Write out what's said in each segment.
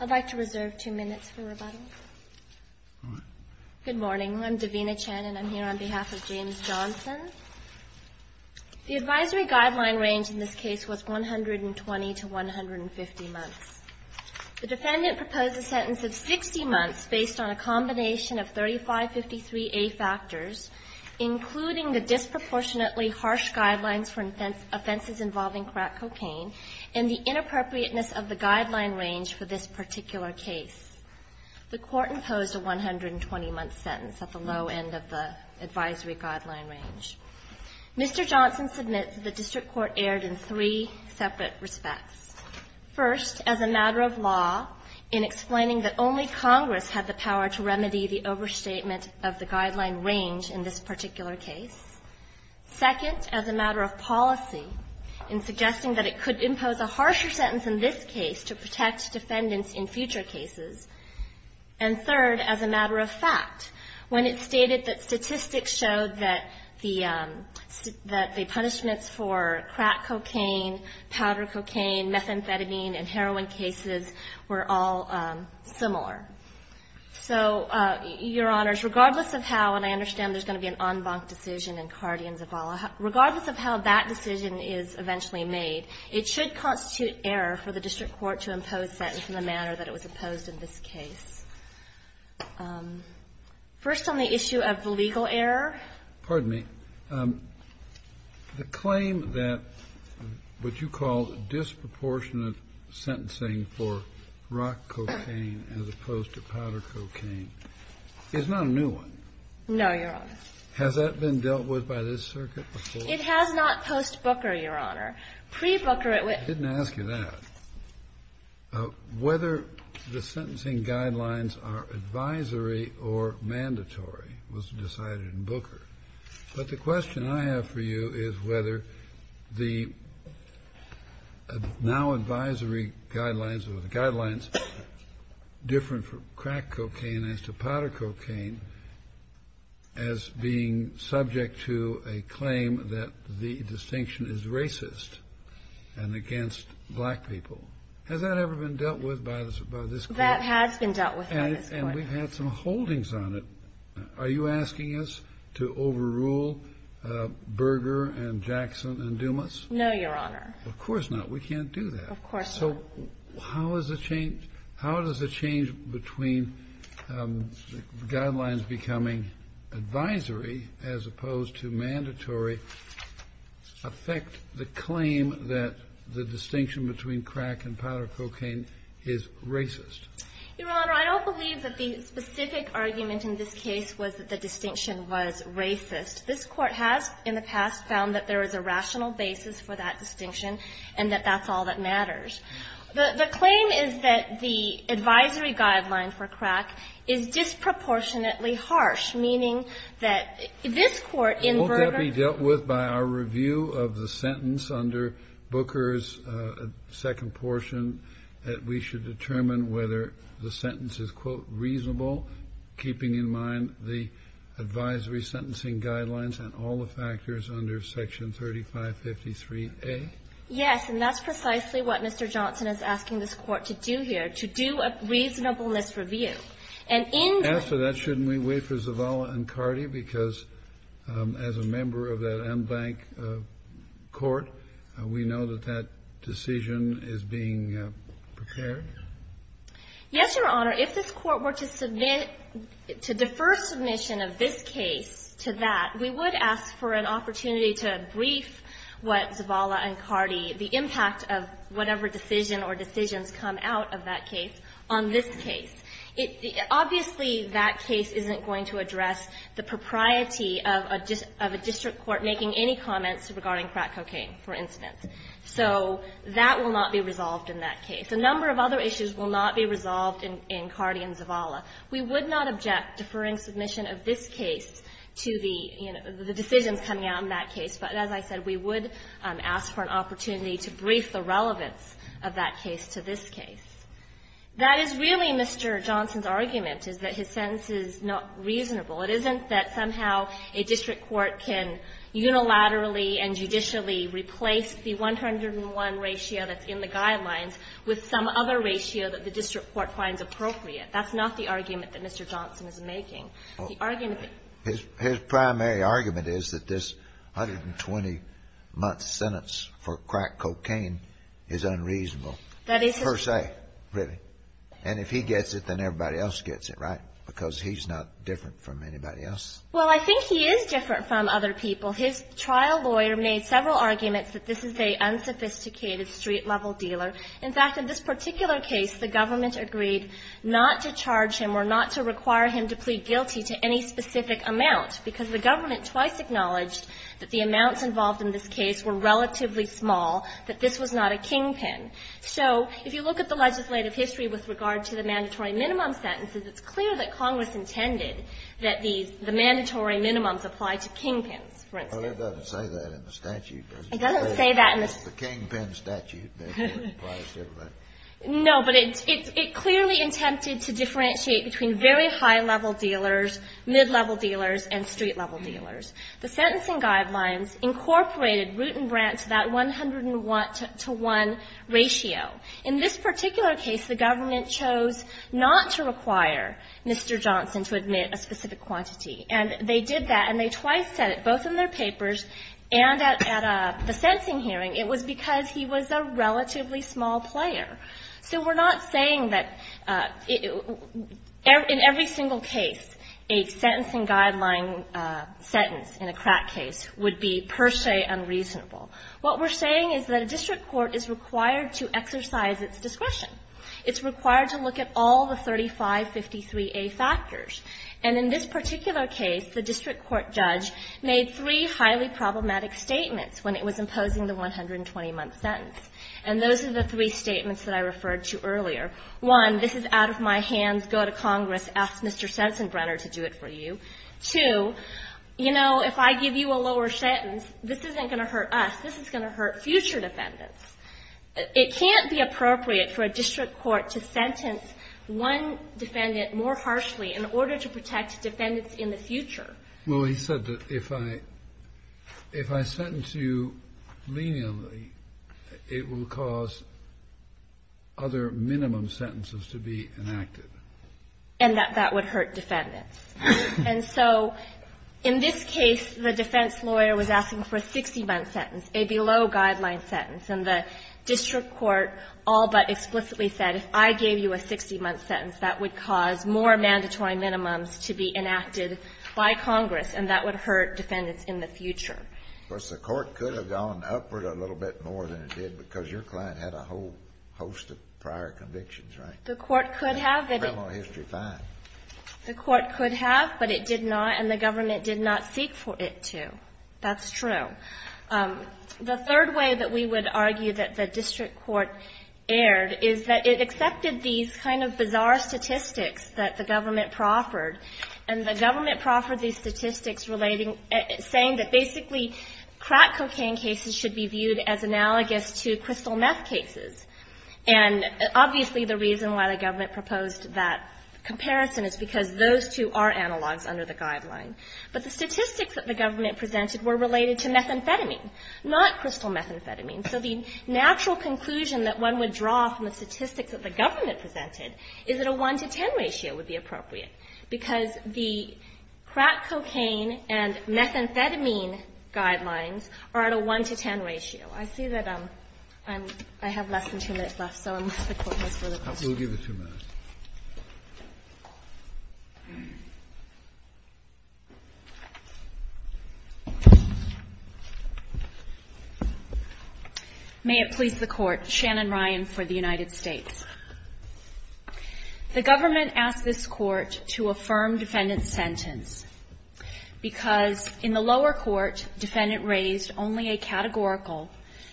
The advisory guideline range in this case was 120 to 150 months. The defendant proposed a sentence of 60 months based on a combination of 3553A factors, including the disproportionately harsh guidelines for offenses involving crack cocaine, and the inappropriateness of the guideline range for this particular case. The Court imposed a 120-month sentence at the low end of the advisory guideline range. Mr. Johnson submits that the district court erred in three separate respects. First, as a matter of law, in explaining that only Congress had the power to remedy the overstatement of the guideline range in this particular case. Second, as a matter of policy, in suggesting that it could impose a harsher sentence in this case to protect defendants in future cases. And third, as a matter of fact, when it stated that statistics showed that the punishments for crack cocaine, powder cocaine, methamphetamine and heroin cases were all similar. So, Your Honors, regardless of how, and I understand there's going to be an en banc decision in Cardi and Zavala, regardless of how that decision is eventually made, it should constitute error for the district court to impose sentence in the manner that it was imposed in this case. First on the issue of legal error. Pardon me. The claim that what you call disproportionate sentencing for rock cocaine as opposed to powder cocaine is not a new one. No, Your Honor. Has that been dealt with by this circuit before? It has not post-Booker, Your Honor. Pre-Booker it was. I didn't ask you that. Whether the sentencing guidelines are advisory or mandatory was decided in Booker. But the question I have for you is whether the now advisory guidelines or the guidelines different for crack cocaine as to powder cocaine as being subject to a claim that the distinction is racist and against black people. Has that ever been dealt with by this court? That has been dealt with by this court. And we've had some holdings on it. Are you asking us to overrule Berger and Jackson and Dumas? No, Your Honor. Of course not. We can't do that. Of course not. So how does the change between guidelines becoming advisory as opposed to mandatory affect the claim that the distinction between crack and powder cocaine is racist? Your Honor, I don't believe that the specific argument in this case was that the distinction was racist. This Court has in the past found that there is a rational basis for that distinction and that that's all that matters. The claim is that the advisory guideline for crack is disproportionately harsh, meaning that this Court in Berger's --- Has that been dealt with by our review of the sentence under Booker's second portion that we should determine whether the sentence is, quote, reasonable, keeping in mind the advisory sentencing guidelines and all the factors under section 3553A? Yes. And that's precisely what Mr. Johnson is asking this Court to do here, to do a reasonableness review. And in the--- After that, shouldn't we wait for Zavala and Cardi? Because as a member of that en banc court, we know that that decision is being prepared? Yes, Your Honor. If this Court were to submit, to defer submission of this case to that, we would ask for an opportunity to brief what Zavala and Cardi, the impact of whatever decision or decisions come out of that case on this case. Obviously, that case isn't going to address the propriety of a district court making any comments regarding crack cocaine, for instance. So that will not be resolved in that case. A number of other issues will not be resolved in Cardi and Zavala. We would not object deferring submission of this case to the, you know, the decisions coming out in that case. But as I said, we would ask for an opportunity to brief the relevance of that case to this case. That is really Mr. Johnson's argument, is that his sentence is not reasonable. It isn't that somehow a district court can unilaterally and judicially replace the 101 ratio that's in the guidelines with some other ratio that the district court finds appropriate. That's not the argument that Mr. Johnson is making. The argument that--- His primary argument is that this 120-month sentence for crack cocaine is unreasonable. That is his--- And if he gets it, then everybody else gets it, right? Because he's not different from anybody else. Well, I think he is different from other people. His trial lawyer made several arguments that this is an unsophisticated street-level dealer. In fact, in this particular case, the government agreed not to charge him or not to require him to plead guilty to any specific amount, because the government twice acknowledged that the amounts involved in this case were relatively small, that this was not a kingpin. So if you look at the legislative history with regard to the mandatory minimum sentences, it's clear that Congress intended that the mandatory minimums apply to kingpins, for instance. Well, it doesn't say that in the statute, does it? It doesn't say that in the--- It's the kingpin statute that applies to everybody. No, but it clearly attempted to differentiate between very high-level dealers, mid-level dealers, and street-level dealers. The sentencing guidelines incorporated Root and Brandt to that 101-to-1 ratio. In this particular case, the government chose not to require Mr. Johnson to admit a specific quantity. And they did that, and they twice said it, both in their papers and at the sentencing hearing. It was because he was a relatively small player. So we're not saying that in every single case a sentencing guideline sentence in a crack case would be per se unreasonable. What we're saying is that a district court is required to exercise its discretion. It's required to look at all the 3553A factors. And in this particular case, the district court judge made three highly problematic statements when it was imposing the 120-month sentence. And those are the three statements that I referred to earlier. One, this is out of my hands. Go to Congress. Ask Mr. Sensenbrenner to do it for you. Two, you know, if I give you a lower sentence, this isn't going to hurt us. This is going to hurt future defendants. It can't be appropriate for a district court to sentence one defendant more harshly in order to protect defendants in the future. Breyer. Well, he said that if I sentence you leniently, it will cause other minimum sentences to be enacted. And that that would hurt defendants. And so in this case, the defense lawyer was asking for a 60-month sentence, a below-guideline sentence. And the district court all but explicitly said, if I gave you a 60-month sentence, that would cause more mandatory minimums to be enacted by Congress, and that would hurt defendants in the future. Of course, the court could have gone upward a little bit more than it did because your client had a whole host of prior convictions, right? The court could have. Criminal history fine. The court could have, but it did not, and the government did not seek for it to. That's true. The third way that we would argue that the district court erred is that it accepted these kind of bizarre statistics that the government proffered, and the government proffered these statistics relating, saying that basically crack cocaine cases should be viewed as analogous to crystal meth cases. And obviously the reason why the government proposed that comparison is because those two are analogs under the guideline. But the statistics that the government presented were related to methamphetamine, not crystal methamphetamine. So the natural conclusion that one would draw from the statistics that the government presented is that a 1-to-10 ratio would be appropriate, because the crack cocaine and methamphetamine guidelines are at a 1-to-10 ratio. I see that I'm ‑‑I have less than two minutes left, so unless the Court wants further questions. May it please the Court. Shannon Ryan for the United States. The government asked this Court to affirm defendant's sentence because in the lower court, defendant raised only a categorical,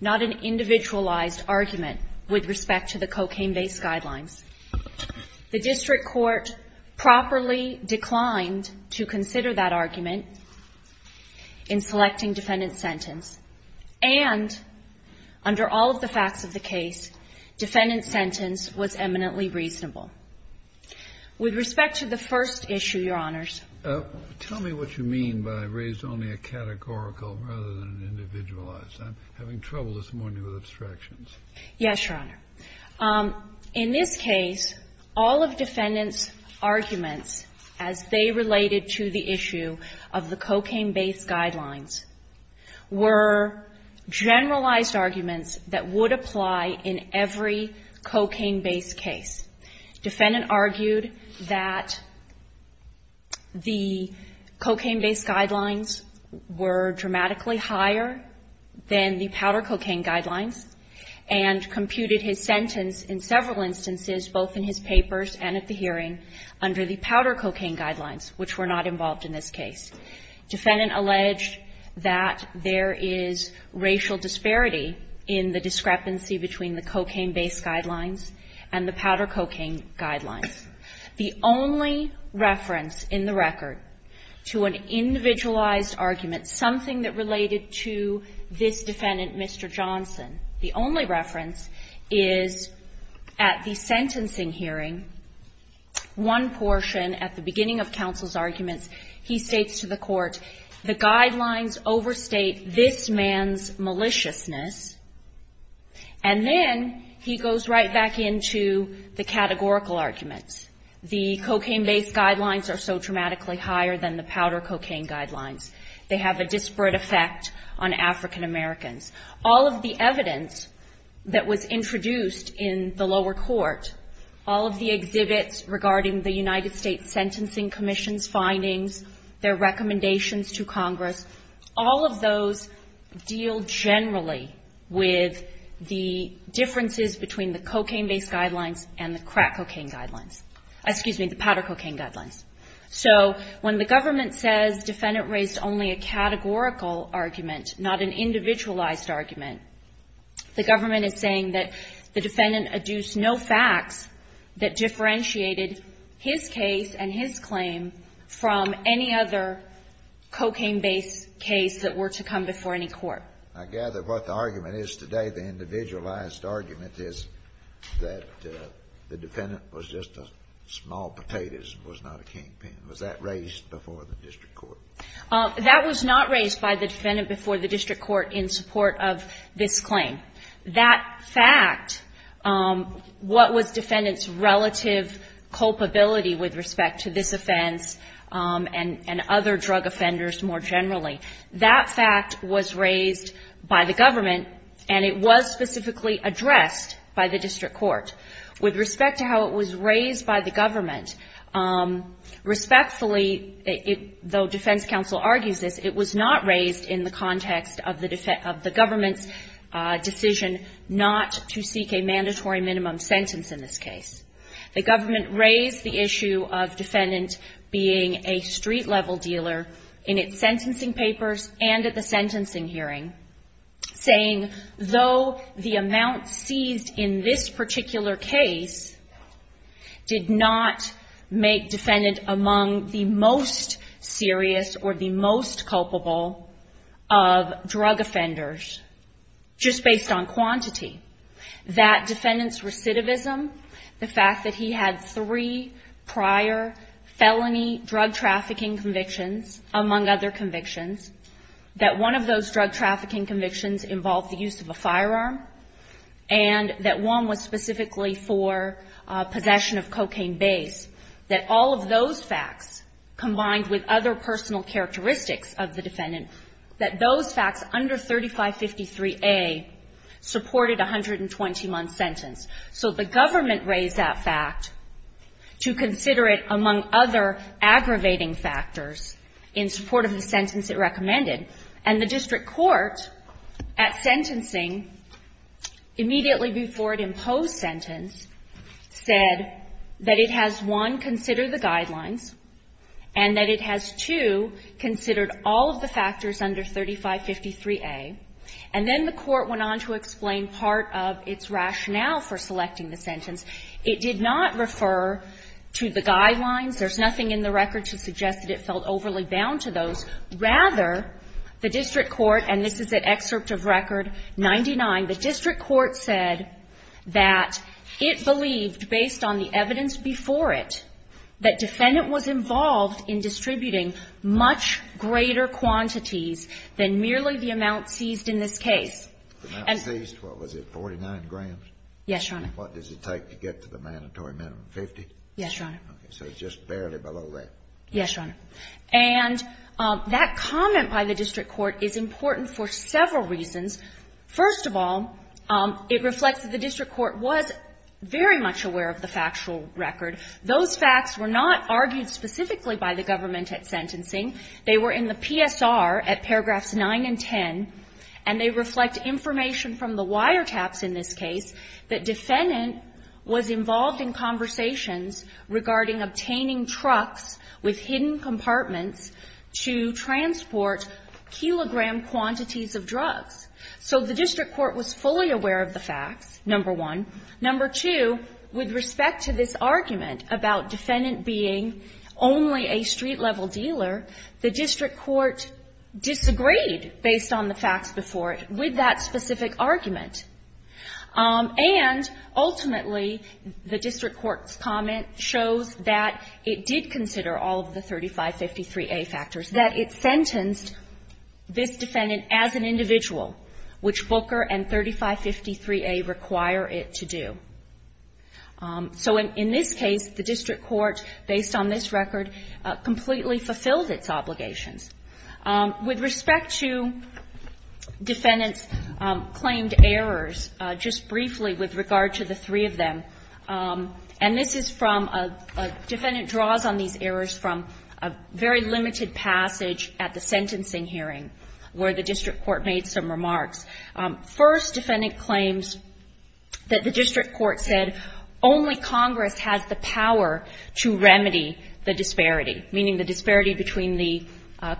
not an individualized argument with respect to the cocaine-based guidelines. The district court properly declined to consider that argument in selecting defendant's sentence, and under all of the facts of the case, defendant's sentence was eminently reasonable. With respect to the first issue, Your Honors. Tell me what you mean by raised only a categorical rather than an individualized. I'm having trouble this morning with abstractions. Yes, Your Honor. In this case, all of defendant's arguments as they related to the issue of the cocaine-based guidelines were generalized arguments that would apply in every cocaine-based case. Defendant argued that the cocaine-based guidelines were dramatically higher than the powder cocaine guidelines and computed his sentence in several instances, both in his papers and at the hearing, under the powder cocaine guidelines, which were not involved in this case. Defendant alleged that there is racial disparity in the discrepancy between the cocaine-based guidelines and the powder cocaine guidelines. The only reference in the record to an individualized argument, something that related to this defendant, Mr. Johnson, the only reference is at the sentencing hearing, one portion at the beginning of counsel's arguments, he states to the court, the guidelines overstate this man's maliciousness. And then he goes right back into the categorical arguments. The cocaine-based guidelines are so dramatically higher than the powder cocaine guidelines. They have a disparate effect on African Americans. All of the evidence that was introduced in the lower court, all of the exhibits regarding the United States Sentencing Commission's findings, their recommendations to Congress, all of those deal generally with the differences between the cocaine-based guidelines and the crack cocaine guidelines. Excuse me, the powder cocaine guidelines. So when the government says defendant raised only a categorical argument, not an individualized argument, the government is saying that the defendant adduced no facts that differentiated his case and his claim from any other cocaine-based case that were to come before any court. I gather what the argument is today, the individualized argument, is that the defendant was just a small potato, was not a kingpin. Was that raised before the district court? That was not raised by the defendant before the district court in support of this claim. That fact, what was defendant's relative culpability with respect to this offense and other drug offenders more generally, that fact was raised by the government and it was specifically addressed by the district court. With respect to how it was raised by the government, respectfully, though defense counsel argues this, it was not raised in the context of the government's decision not to seek a mandatory minimum sentence in this case. The government raised the issue of defendant being a street-level dealer in its sentencing papers and at the sentencing hearing, saying though the amount seized in this particular case did not make defendant among the most serious or the most culpable of drug offenders, just based on quantity, that defendant's recidivism, the fact that he had three prior felony drug trafficking convictions, among other convictions, that one of those drug trafficking convictions involved the use of a firearm, and that one was specifically for possession of cocaine base, that all of those facts, combined with other personal characteristics of the defendant, that those facts under 3553A supported a 120-month sentence. So the government raised that fact to consider it among other aggravating factors in support of the sentence it recommended. And the district court at sentencing, immediately before it imposed sentence, said that it has, one, considered the guidelines, and that it has, two, considered all of the factors under 3553A. And then the court went on to explain part of its rationale for selecting the sentence. It did not refer to the guidelines. There's nothing in the record to suggest that it felt overly bound to those. Rather, the district court, and this is an excerpt of Record 99, the district court said that it believed, based on the evidence before it, that defendant was involved in distributing much greater quantities than merely the amount seized in this case. And the amount seized, what was it, 49 grams? Yes, Your Honor. And what does it take to get to the mandatory minimum, 50? Yes, Your Honor. Okay. So just barely below that. Yes, Your Honor. And that comment by the district court is important for several reasons. First of all, it reflects that the district court was very much aware of the factual record. Those facts were not argued specifically by the government at sentencing. They were in the PSR at paragraphs 9 and 10, and they reflect information from the wiretaps in this case that defendant was involved in conversations regarding obtaining trucks with hidden compartments to transport kilogram quantities of drugs. So the district court was fully aware of the facts, number one. Number two, with respect to this argument about defendant being only a street-level dealer, the district court disagreed, based on the facts before it, with that specific argument. And ultimately, the district court's comment shows that it did consider all of the 3553a factors, that it sentenced this defendant as an individual, which Booker and 3553a require it to do. So in this case, the district court, based on this record, completely fulfilled its obligations. With respect to defendant's claimed errors, just briefly with regard to the three of them, and this is from a defendant draws on these errors from a very limited passage at the sentencing hearing where the district court made some remarks. First, defendant claims that the district court said only Congress has the power to remedy the disparity, meaning the disparity between the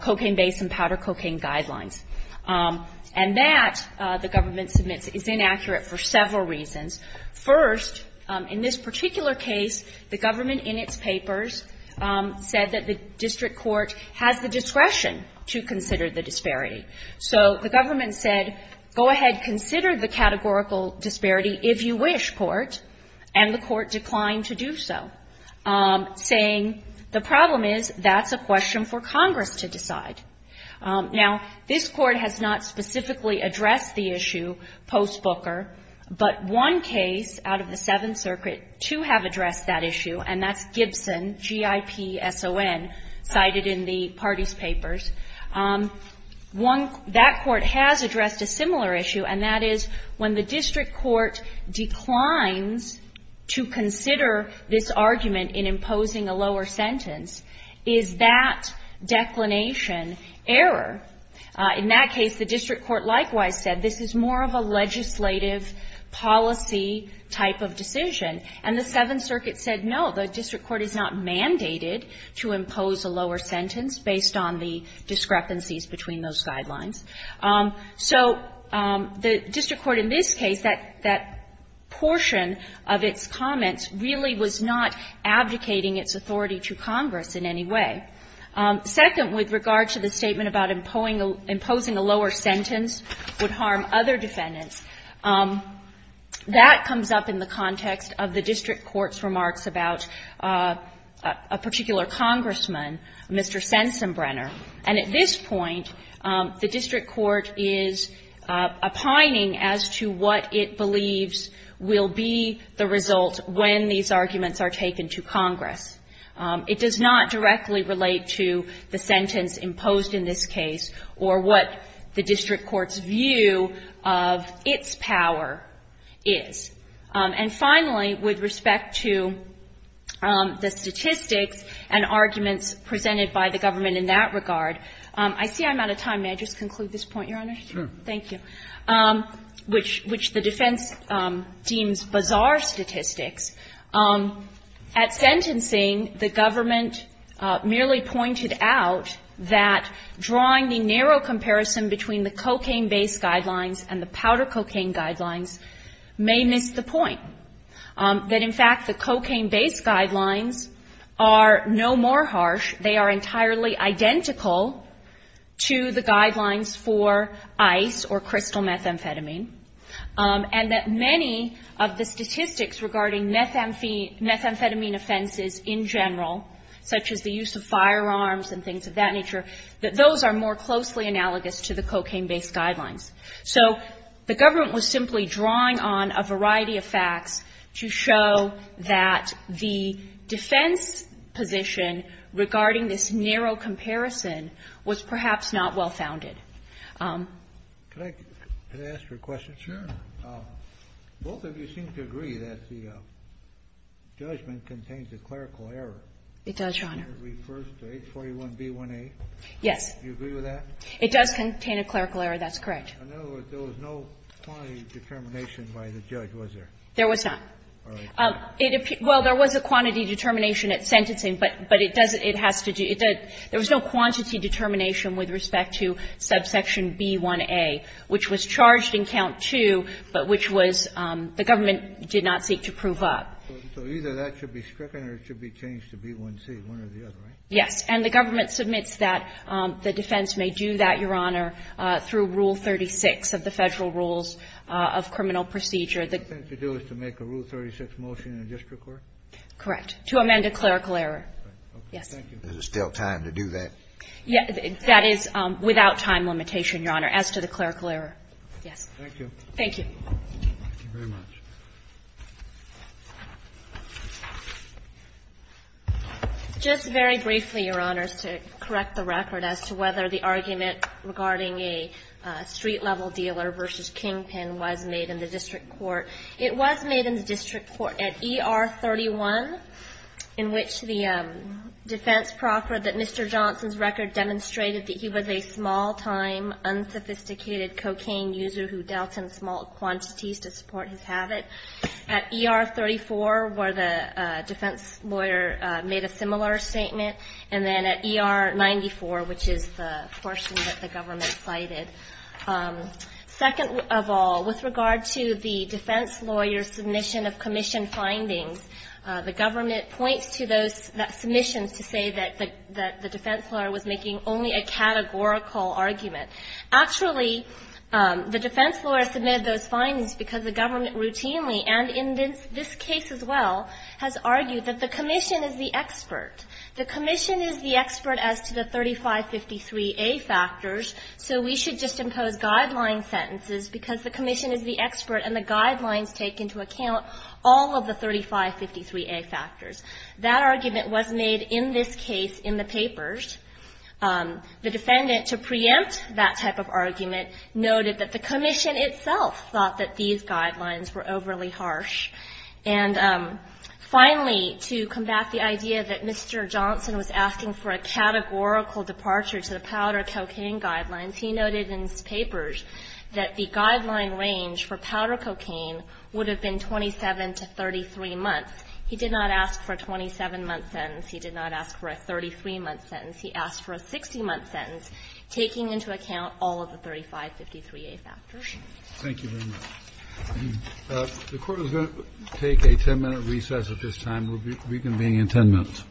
cocaine-based and powder cocaine guidelines. And that, the government submits, is inaccurate for several reasons. First, in this particular case, the government in its papers said that the district court has the discretion to consider the disparity. So the government said, go ahead, consider the categorical disparity if you wish, court, and the court declined to do so, saying the problem is that's a question for Congress to decide. Now, this Court has not specifically addressed the issue post-Booker, but one case out of the Seventh Circuit, two have addressed that issue, and that's Gibson, G-I-P-S-O-N, cited in the party's papers. One, that court has addressed a similar issue, and that is when the district court declines to consider this argument in imposing a lower sentence, is that declination error? In that case, the district court likewise said this is more of a legislative policy type of decision. And the Seventh Circuit said, no, the district court is not mandated to impose a lower sentence if there are any discrepancies between those guidelines. So the district court in this case, that portion of its comments really was not abdicating its authority to Congress in any way. Second, with regard to the statement about imposing a lower sentence would harm other defendants, that comes up in the context of the district court's remarks about a particular congressman, Mr. Sensenbrenner. And at this point, the district court is opining as to what it believes will be the result when these arguments are taken to Congress. It does not directly relate to the sentence imposed in this case or what the district court's view of its power is. And finally, with respect to the statistics and arguments presented by the government in that regard, I see I'm out of time. May I just conclude this point, Your Honor? Thank you. Which the defense deems bizarre statistics. At sentencing, the government merely pointed out that drawing the narrow comparison between the cocaine-based guidelines and the powder cocaine guidelines may miss the point. That, in fact, the cocaine-based guidelines are no more harsh. They are entirely identical to the guidelines for ice or crystal methamphetamine. And that many of the statistics regarding methamphetamine offenses in general, such as the use of firearms and things of that nature, that those are more closely analogous to the cocaine-based So the government was simply drawing on a variety of facts to show that the defense position regarding this narrow comparison was perhaps not well-founded. Can I ask you a question? Sure. Both of you seem to agree that the judgment contains a clerical error. It does, Your Honor. It refers to H41B1A. Yes. Do you agree with that? It does contain a clerical error. That's correct. In other words, there was no quantity determination by the judge, was there? There was not. All right. It appears – well, there was a quantity determination at sentencing, but it doesn't – it has to do – it does – there was no quantity determination with respect to subsection B1A, which was charged in count two, but which was – the government did not seek to prove up. So either that should be stricken or it should be changed to B1C, one or the other, right? Yes. And the government submits that. The defense may do that, Your Honor, through Rule 36 of the Federal Rules of Criminal Procedure. The defense should do it to make a Rule 36 motion in the district court? Correct. To amend a clerical error. Yes. Thank you. Is there still time to do that? Yes. That is without time limitation, Your Honor, as to the clerical error. Yes. Thank you. Thank you. Thank you very much. Just very briefly, Your Honors, to correct the record as to whether the argument regarding a street-level dealer versus kingpin was made in the district court. It was made in the district court at ER 31, in which the defense proffered that Mr. Johnson's record demonstrated that he was a small-time, unsophisticated cocaine user who dealt in small quantities to support his habit. At ER 34, where the defense lawyer made a similar statement. And then at ER 94, which is the portion that the government cited. Second of all, with regard to the defense lawyer's submission of commission findings, the government points to those submissions to say that the defense lawyer was making only a categorical argument. Actually, the defense lawyer submitted those findings because the government routinely, and in this case as well, has argued that the commission is the expert. The commission is the expert as to the 3553A factors, so we should just impose guideline sentences because the commission is the expert and the guidelines take into account all of the 3553A factors. That argument was made in this case in the papers. The defendant, to preempt that type of argument, noted that the commission itself thought that these guidelines were overly harsh. And finally, to combat the idea that Mr. Johnson was asking for a categorical departure to the powder cocaine guidelines, he noted in his papers that the guideline range for powder cocaine would have been 27 to 33 months. He did not ask for a 27-month sentence. He did not ask for a 33-month sentence. He asked for a 60-month sentence, taking into account all of the 3553A factors. Kennedy. Thank you very much. The Court is going to take a 10-minute recess at this time. We'll reconvene in 10 minutes.